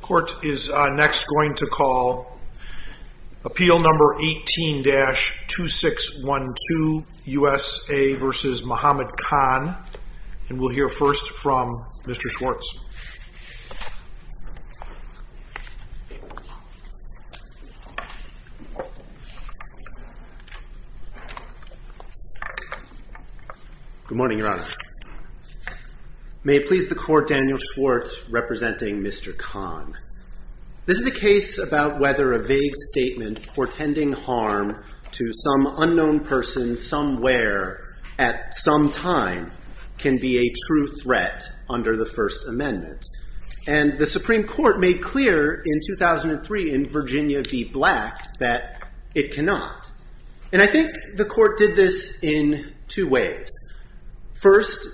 Court is next going to call appeal number 18-2612 USA v. Mohammad Khan. And we'll hear first from Mr. Schwartz. Good morning, Your Honor. May it please the court, Daniel Schwartz representing Mr. Khan. This is a case about whether a vague statement portending harm to some unknown person somewhere at some time can be a true threat under the First Amendment. And the Supreme Court made clear in 2003 in Virginia v. Black that it cannot. And I think the court did this in two ways. First,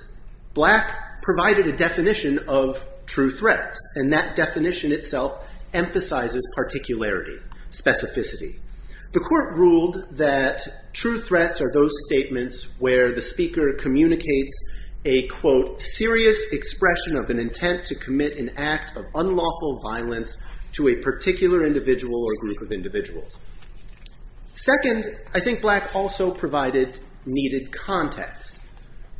Black provided a definition of true threats. And that definition itself emphasizes particularity, specificity. The court ruled that true threats are those statements where the speaker communicates a, quote, serious expression of an intent to commit an act of unlawful violence to a particular individual or group of individuals. Second, I think Black also provided needed context.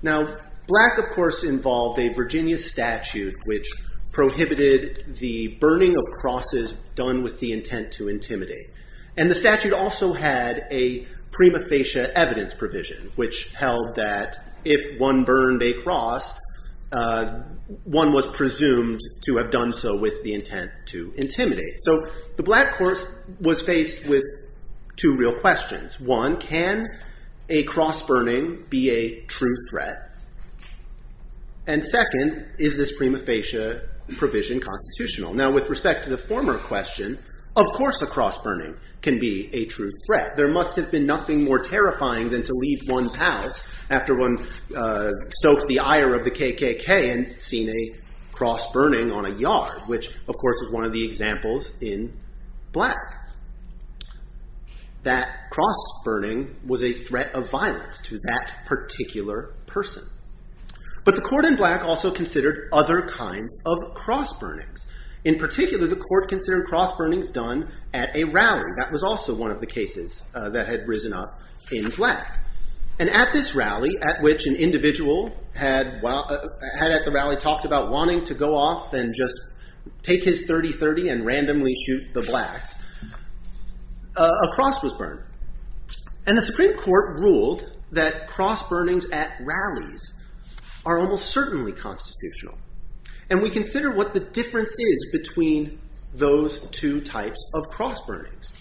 Now, Black, of course, involved a Virginia statute which prohibited the burning of crosses done with the intent to intimidate. And the statute also had a prima facie evidence provision, which held that if one burned a cross, one was presumed to have done so with the intent to intimidate. So the Black court was faced with two real questions. One, can a cross burning be a true threat? And second, is this prima facie provision constitutional? Now, with respect to the former question, of course a cross burning can be a true threat. There must have been nothing more terrifying than to leave one's house after one stoked the ire of the KKK and seen a cross burning on a yard, which, of course, is one of the examples in Black. That cross burning was a threat of violence to that particular person. But the court in Black also considered other kinds of cross burnings. In particular, the court considered cross burnings done at a rally. That was also one of the cases that had risen up in Black. And at this rally, at which an individual had at the rally talked about wanting to go off and just take his 30-30 and randomly shoot the Blacks, a cross was burned. And the Supreme Court ruled that cross burnings at rallies are almost certainly constitutional. And we consider what the difference is between those two types of cross burnings.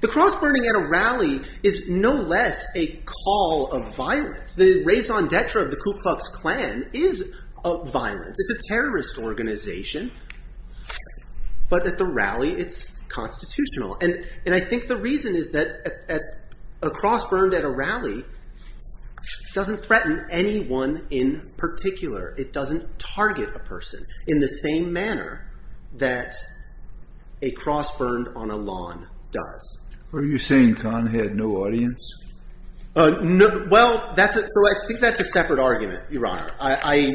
The cross burning at a rally is no less a call of violence. The raison d'etre of the Ku Klux Klan is violence. It's a terrorist organization. But at the rally, it's constitutional. And I think the reason is that a cross burned at a rally doesn't threaten anyone in particular. It doesn't target a person in the same manner that a cross burned on a lawn does. Are you saying Khan had no audience? Well, that's it. So I think that's a separate argument, Your Honor. I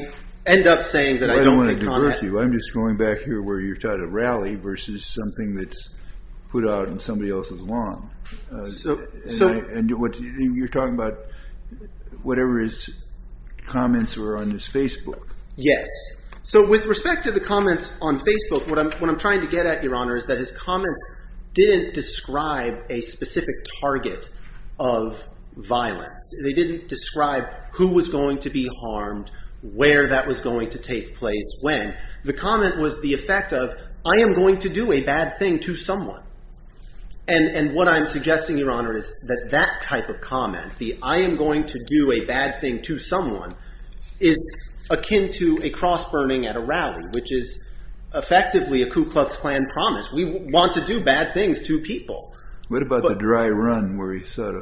end up saying that I don't want to divorce you. I'm just going back here where you're trying to rally versus something that's put out on somebody else's lawn. And you're talking about whatever his comments were on his Facebook. Yes. So with respect to the comments on Facebook, what I'm trying to get at, Your Honor, is that his comments didn't describe a specific target of violence. They didn't describe who was going to be harmed, where that was going to take place, when. The comment was the effect of, I am going to do a bad thing to someone. And what I'm suggesting, Your Honor, is that that type of comment, the I am going to do a bad thing to someone, is akin to a cross burning at a rally, which is effectively a Ku Klux Klan promise. We want to do bad things to people. What about the dry run where he saw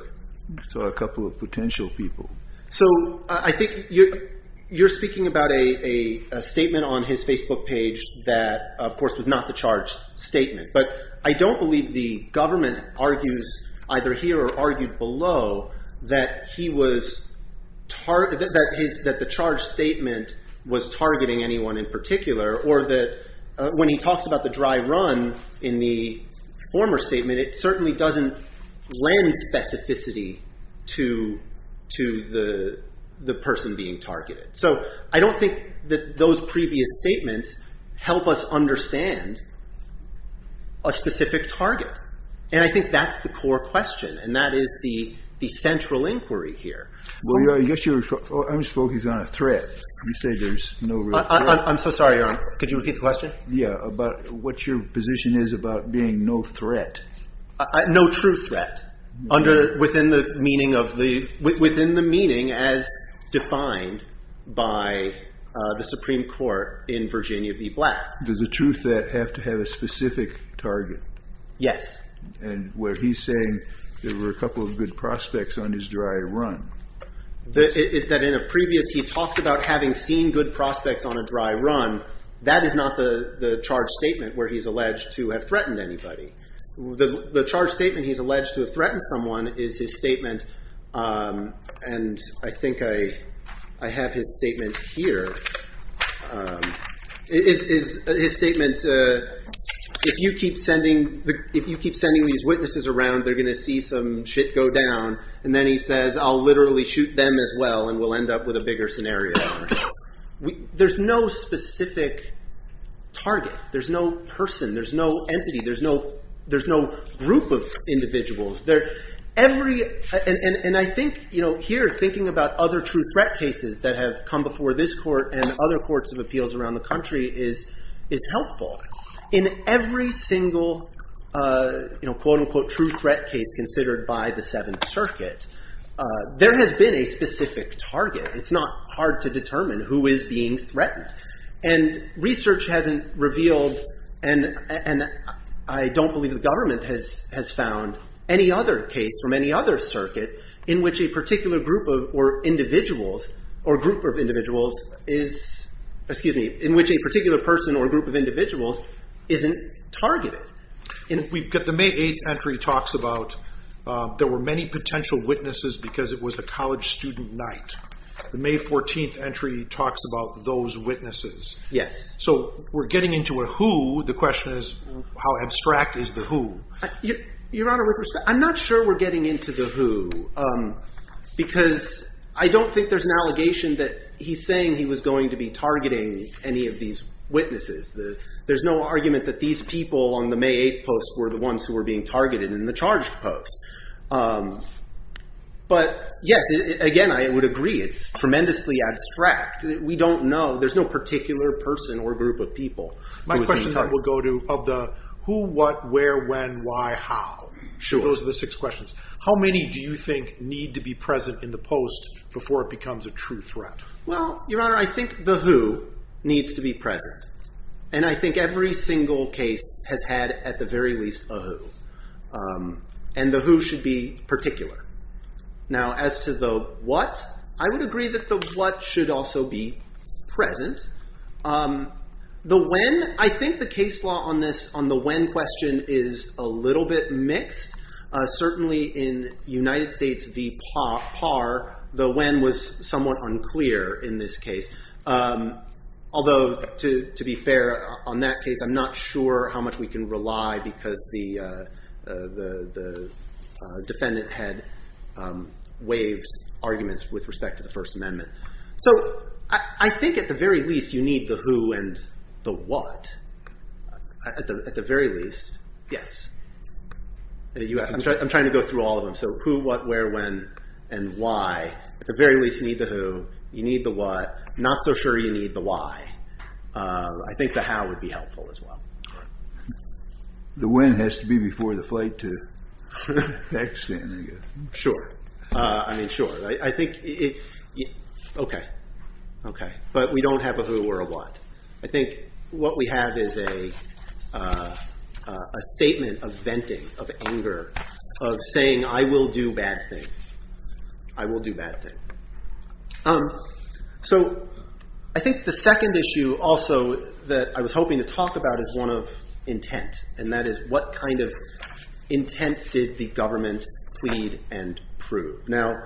a couple of potential people? So I think you're speaking about a statement on his Facebook page that, of course, was not the charge statement. But I don't believe the government argues, either here or argued below, that the charge statement was targeting anyone in particular. Or that when he talks about the dry run in the former statement, it certainly doesn't lend specificity to the person being targeted. So I don't think that those previous statements help us understand a specific target. And I think that's the core question. And that is the central inquiry here. Well, Your Honor, I guess you're focused on a threat. You say there's no real threat. I'm so sorry, Your Honor. Could you repeat the question? Yeah. About what your position is about being no threat. No true threat, within the meaning as defined by the Supreme Court in Virginia v. Black. Does a true threat have to have a specific target? Yes. And where he's saying there were a couple of good prospects on his dry run. That in a previous, he talked about having seen good prospects on a dry run. That is not the charge statement where he's alleged to have threatened anybody. The charge statement he's alleged to have threatened someone is his statement. And I think I have his statement here. His statement, if you keep sending these witnesses around, they're going to see some shit go down. And then he says, I'll literally shoot them as well, and we'll end up with a bigger scenario. There's no specific target. There's no person. There's no entity. There's no group of individuals. And I think here, thinking about other true threat cases that have come before this court and other courts of appeals around the country is helpful. In every single, quote unquote, true threat case considered by the Seventh Circuit, there has been a specific target. It's not hard to determine who is being threatened. And research hasn't revealed, and I don't believe the government has found any other case from any other circuit in which a particular group or individuals or group of individuals is, excuse me, in which a particular person or group of individuals isn't targeted. We've got the May 8th entry talks about there were many potential witnesses because it was a Yes. So we're getting into a who. The question is, how abstract is the who? Your Honor, with respect, I'm not sure we're getting into the who because I don't think there's an allegation that he's saying he was going to be targeting any of these witnesses. There's no argument that these people on the May 8th posts were the ones who were being targeted in the charged post. But yes, again, I would agree. It's tremendously abstract. We don't know. There's no particular person or group of people. My question then will go to of the who, what, where, when, why, how. Sure. Those are the six questions. How many do you think need to be present in the post before it becomes a true threat? Well, Your Honor, I think the who needs to be present. And I think every single case has had at the very least a who. And the who should be particular. Now, as to the what, I would agree that the what should also be present. The when, I think the case law on this, on the when question is a little bit mixed. Certainly in United States v. Parr, the when was somewhat unclear in this case. Although, to be fair, on that case, I'm not sure how much we can rely because the defendant had waived arguments with respect to the First Amendment. So I think at the very least, you need the who and the what. At the very least, yes. I'm trying to go through all of them. So who, what, where, when, and why. At the very least, you need the who. You need the what. Not so sure you need the why. I think the how would be helpful as well. The when has to be before the flight to the next thing. Sure. I mean, sure. I think, okay. Okay. But we don't have a who or a what. I think what we have is a statement of venting, of anger, of saying, I will do bad things. I will do bad things. Um, so I think the second issue also that I was hoping to talk about is one of intent. And that is what kind of intent did the government plead and prove? Now,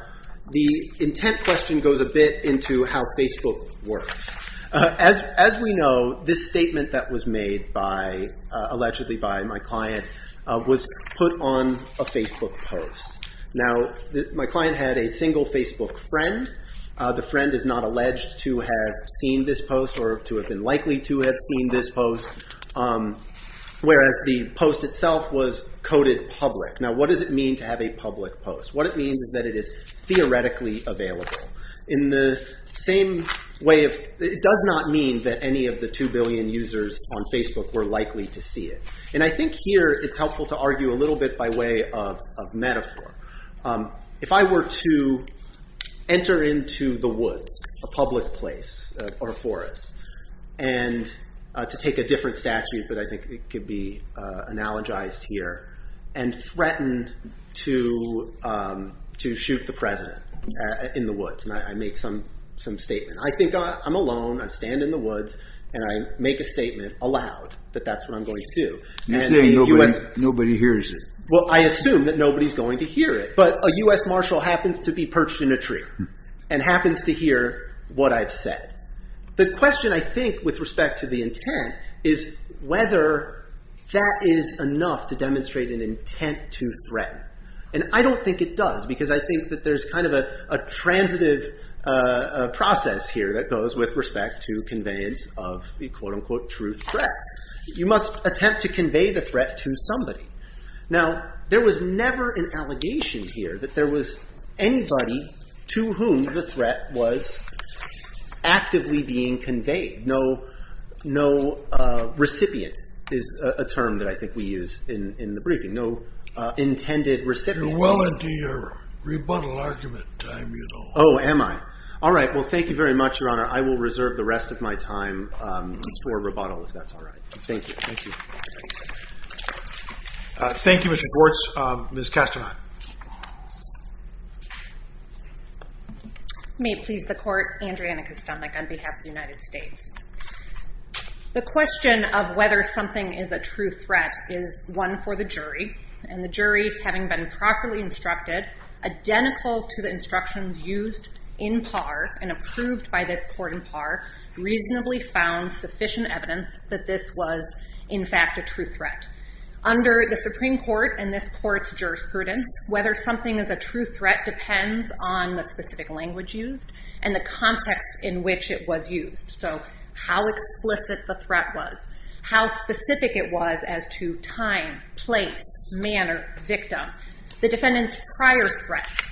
the intent question goes a bit into how Facebook works. As we know, this statement that was made by, allegedly by my client, was put on a Facebook post. Now, my client had a single Facebook friend. The friend is not alleged to have seen this post or to have been likely to have seen this post. Whereas the post itself was coded public. Now, what does it mean to have a public post? What it means is that it is theoretically available. In the same way of, it does not mean that any of the 2 billion users on Facebook were likely to see it. And I think here it's helpful to argue a little bit by way of metaphor. If I were to enter into the woods, a public place or a forest, and to take a different statute, but I think it could be analogized here, and threaten to shoot the president in the woods. And I make some statement. I think I'm alone. I stand in the woods. I make a statement aloud that that's what I'm going to do. You're saying nobody hears it. Well, I assume that nobody's going to hear it. But a US marshal happens to be perched in a tree and happens to hear what I've said. The question, I think, with respect to the intent, is whether that is enough to demonstrate an intent to threaten. And I don't think it does, because I think that there's kind of a transitive process here that goes with respect to conveyance of the, quote unquote, true threat. You must attempt to convey the threat to somebody. Now, there was never an allegation here that there was anybody to whom the threat was actively being conveyed. No recipient is a term that I think we use in the briefing. No intended recipient. You're well into your rebuttal argument time, you know. Oh, am I? All right. Well, thank you very much, Your Honor. I will reserve the rest of my time for rebuttal, if that's all right. Thank you. Thank you, Mr. Gortz. Ms. Kasterman. May it please the court, Andrea Nikustamnik, on behalf of the United States. The question of whether something is a true threat is one for the jury. And the jury, having been properly instructed, identical to the instructions used in par and approved by this court in par, reasonably found sufficient evidence that this was, in fact, a true threat. Under the Supreme Court and this court's jurisprudence, whether something is a true threat depends on the specific language used and the context in which it was used. So how explicit the threat was, how specific it was as to time, place, manner, victim, the defendant's prior threats.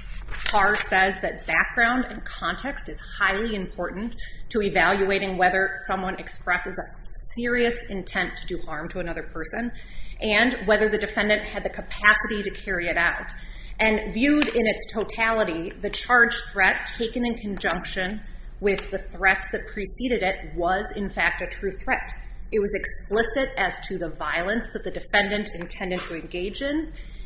Par says that background and context is highly important to evaluating whether someone expresses a serious intent to do harm to another person and whether the defendant had the capacity to carry it out. And viewed in its totality, the charge threat taken in conjunction with the threats that preceded it was, in fact, a true threat. It was explicit as to the violence that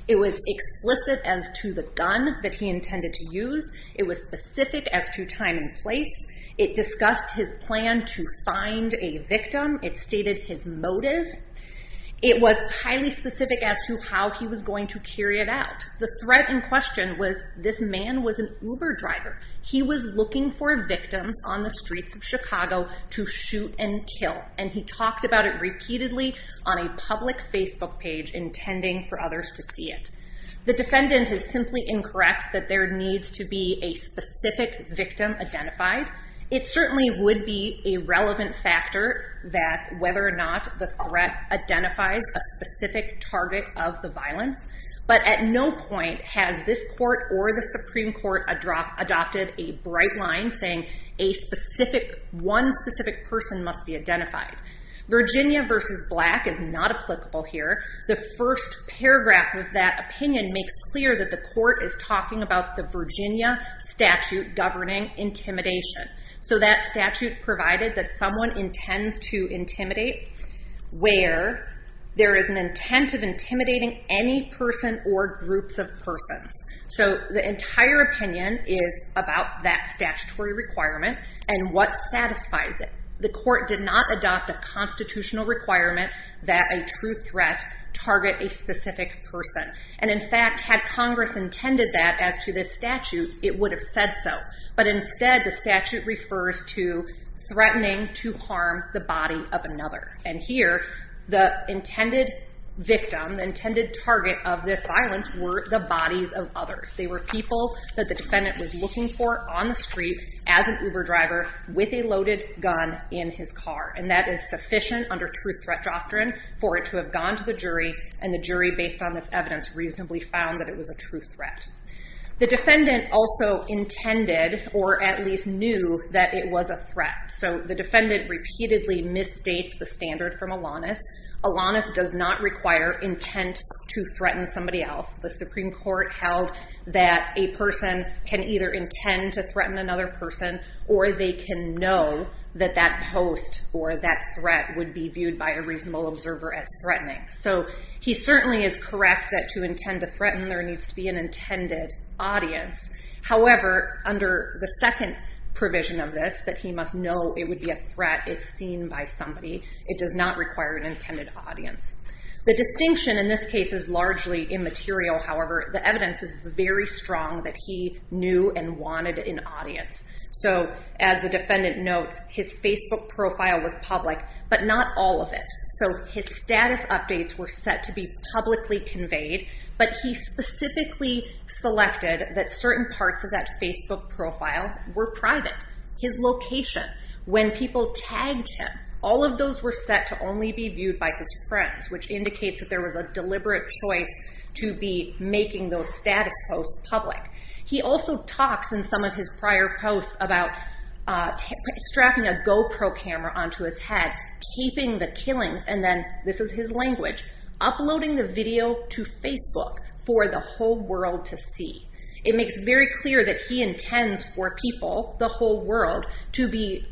It was explicit as to the gun that he intended to use. It was specific as to time and place. It discussed his plan to find a victim. It stated his motive. It was highly specific as to how he was going to carry it out. The threat in question was this man was an Uber driver. He was looking for victims on the streets of Chicago to shoot and kill. And he talked about it repeatedly on a public Facebook page intending for others to see it. The defendant is simply incorrect that there needs to be a specific victim identified. It certainly would be a relevant factor that whether or not the threat identifies a specific target of the violence. But at no point has this court or the Supreme Court adopted a bright line saying one specific person must be identified. Virginia v. Black is not applicable here. The first paragraph of that opinion makes clear that the court is talking about the Virginia statute governing intimidation. So that statute provided that someone intends to intimidate where there is an intent of intimidating any person or groups of persons. So the entire opinion is about that statutory requirement and what satisfies it. The court did not adopt a constitutional requirement that a true threat target a specific person. And in fact had Congress intended that as to this statute it would have said so. But instead the statute refers to threatening to harm the body of another. And here the intended victim, the intended target of this violence were the bodies of others. They were people that the in his car. And that is sufficient under true threat doctrine for it to have gone to the jury and the jury based on this evidence reasonably found that it was a true threat. The defendant also intended or at least knew that it was a threat. So the defendant repeatedly misstates the standard from Alanis. Alanis does not require intent to threaten somebody else. The Supreme Court held that a person can either intend to threaten another person or they can know that post or that threat would be viewed by a reasonable observer as threatening. So he certainly is correct that to intend to threaten there needs to be an intended audience. However under the second provision of this that he must know it would be a threat if seen by somebody. It does not require an intended audience. The distinction in this case is largely immaterial. However the evidence is very strong that he knew and wanted an audience. So as the defendant notes his Facebook profile was public but not all of it. So his status updates were set to be publicly conveyed but he specifically selected that certain parts of that Facebook profile were private. His location, when people tagged him, all of those were set to only be viewed by his friends which indicates that was a deliberate choice to be making those status posts public. He also talks in some of his prior posts about strapping a GoPro camera onto his head, taping the killings, and then this is his language, uploading the video to Facebook for the whole world to see. It makes very clear that he intends for people, the whole world, to be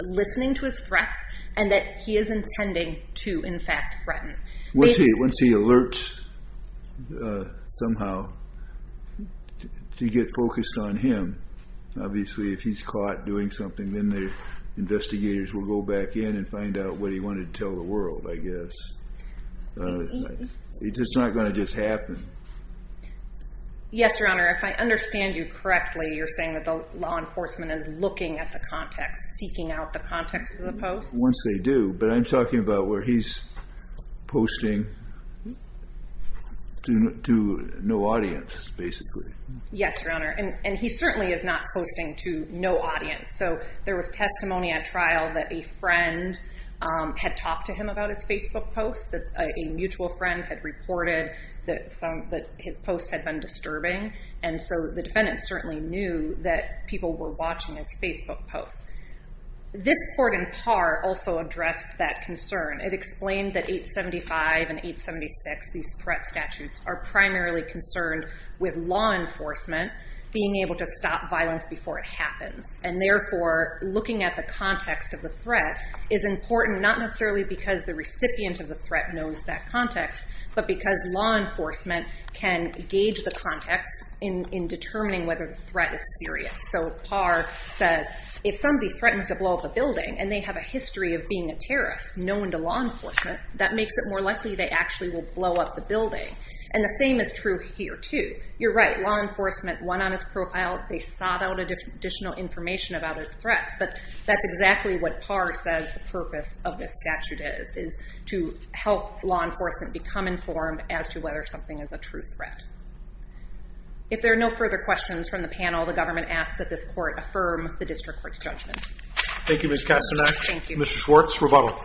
listening to his threats and that he is intending to in fact threaten. Once he alerts somehow to get focused on him, obviously if he's caught doing something then the investigators will go back in and find out what he wanted to tell the world I guess. It's not going to just happen. Yes your honor, if I understand you correctly you're saying that the law enforcement is looking at the context, seeking out the context of the post? Once they do, but I'm posting to no audience basically. Yes your honor and he certainly is not posting to no audience. So there was testimony at trial that a friend had talked to him about his Facebook post, that a mutual friend had reported that his posts had been disturbing and so the defendant certainly knew that people were watching his Facebook posts. This court in par also addressed that concern. It said that in 875 and 876 these threat statutes are primarily concerned with law enforcement being able to stop violence before it happens and therefore looking at the context of the threat is important not necessarily because the recipient of the threat knows that context but because law enforcement can gauge the context in determining whether the threat is serious. So par says if somebody threatens to blow up a building and they have a history of being a terrorist known to law they actually will blow up the building and the same is true here too. You're right law enforcement went on his profile, they sought out additional information about his threats but that's exactly what par says the purpose of this statute is, is to help law enforcement become informed as to whether something is a true threat. If there are no further questions from the panel the government asks that this court affirm the district court's judgment. Thank you Ms. Castanet, Mr. Schwartz, rebuttal.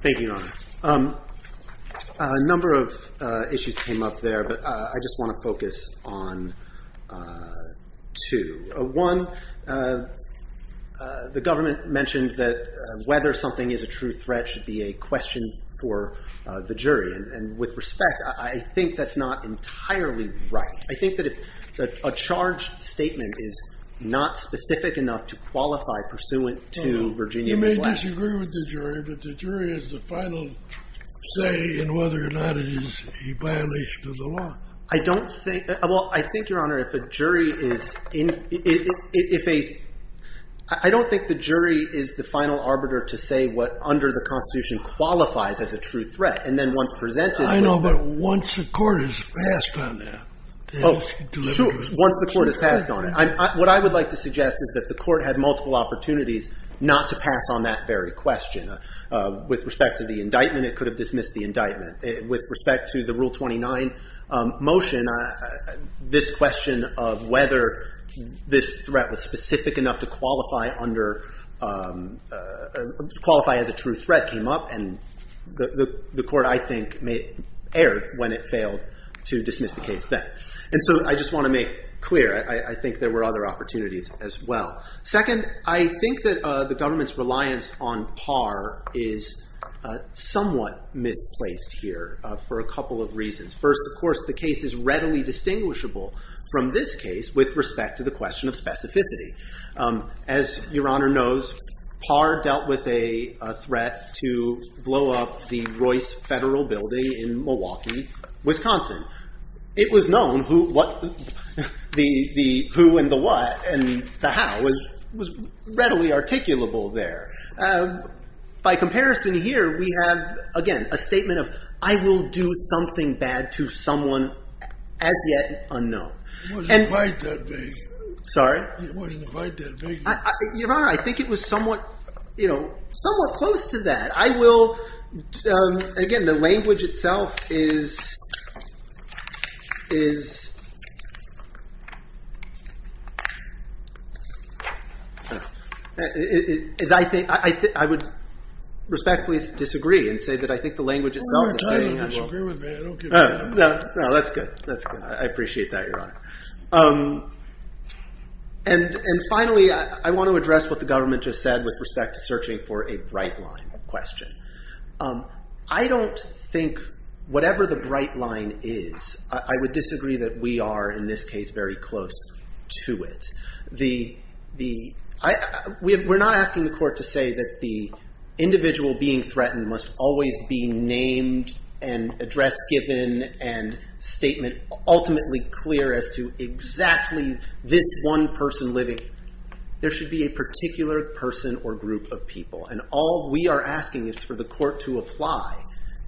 Thank you Your Honor. A number of issues came up there but I just want to focus on two. One the government mentioned that whether something is a true threat should be a question for the jury and with respect I think that's not entirely right. I think that if a charge statement is not specific enough to qualify pursuant to Virginia. You may disagree with the jury but the jury is the final say in whether or not it is a violation of the law. I don't think well I think Your Honor if a jury is in if a I don't think the jury is the final arbiter to say what under the constitution qualifies as a true threat and then once presented I know but once the court is passed on that oh sure once the court is passed on it I'm what I would like to suggest is that the court had multiple opportunities not to pass on that very question with respect to the indictment it could have dismissed the indictment with respect to the rule 29 motion this question of whether this threat was specific enough to qualify under qualify as a true threat came up and the the court I think erred when it failed to dismiss the case then and so I just want to make clear I think there were other opportunities as well. Second I think that the government's reliance on par is somewhat misplaced here for a couple of reasons. First of course the case is readily distinguishable from this case with respect to the question of specificity. As Your Honor knows par dealt with a threat to blow up the Royce Federal Building. In Milwaukee, Wisconsin. It was known who what the who and the what and the how was was readily articulable there. By comparison here we have again a statement of I will do something bad to someone as yet unknown. Sorry Your Honor I think it was somewhat you know somewhat close to that I will again the language itself is is is I think I would respectfully disagree and say that I think the language itself that's good that's good I appreciate that Your Honor. And and finally I want to address what the government just said with respect to searching for a bright line question. I don't think whatever the bright line is I would disagree that we are in this case very close to it. The the I we're not asking the court to say that the individual being threatened must always be named and address given and statement ultimately clear as to exactly this one person living. There should be a particular person or group of people and all we are asking is for the court to apply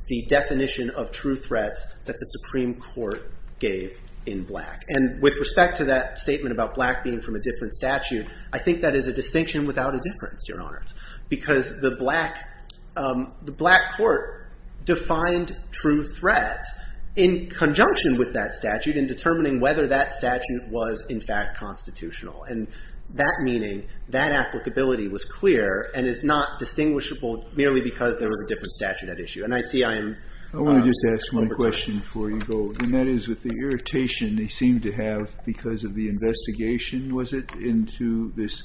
the definition of true threats that the Supreme Court gave in black and with respect to that statement about black being from a different statute. I think that is a distinction without a difference Your Honor. Because the black the black court defined true threats in conjunction with that statute in determining whether that statute was in fact constitutional and that meaning that applicability was clear and is not distinguishable merely because there was a different statute at issue and I see I am. I want to just ask one question before you go and that is with the irritation they seem to have because of the investigation was it into this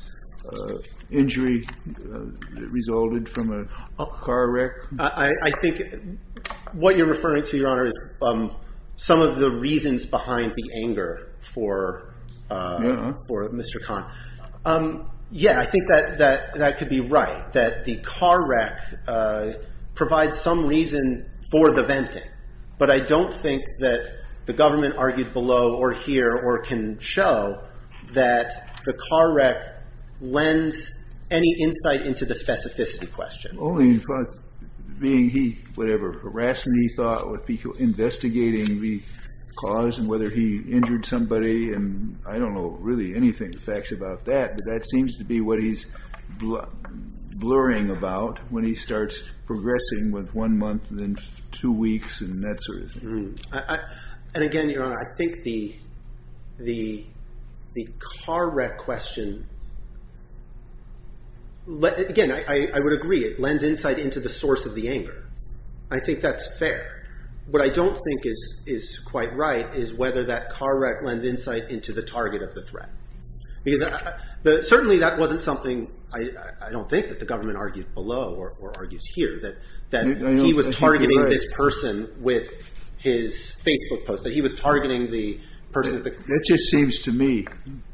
injury that resulted from a car wreck. I think what you're referring to Your Honor is some of the reasons behind the anger for for Mr. Khan. Yeah I think that that that could be right that the car wreck provides some reason for the venting but I don't think that the government argued below or here or can show that the car wreck lends any insight into the specificity question. Only in front of being he whatever harassment he thought would be investigating the cause and whether he injured somebody and I don't know really anything facts about that but that seems to be what he's blurring about when he starts progressing with one month and then two weeks and that sort of thing. And again Your Honor I think the the the car wreck question again I would agree it lends insight into the source of the anger I think that's fair what I don't think is is quite right is whether that car wreck lends insight into the target of the threat because certainly that wasn't something I don't think that the government argued below or argues here that that he was targeting this person with his. Facebook post that he was targeting the person that just seems to me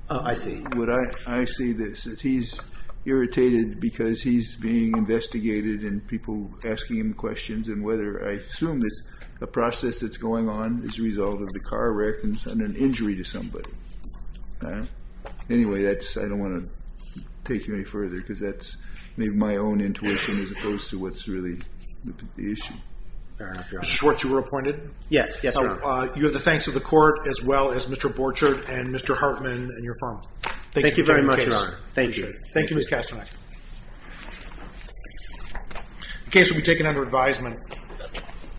I see what I see that he's irritated because he's being investigated and people asking him questions and whether I assume it's a process that's going on as a result of the car wreck and an injury to somebody. Anyway that's I don't want to take you any further because that's my own intuition as opposed to what's really the issue. What you were appointed yes yes you have the thanks of the court as well as Mr. Borchardt and Mr. Hartman and you're from thank you very much thank you thank you Miss Castanet. Case will be taken under advisement.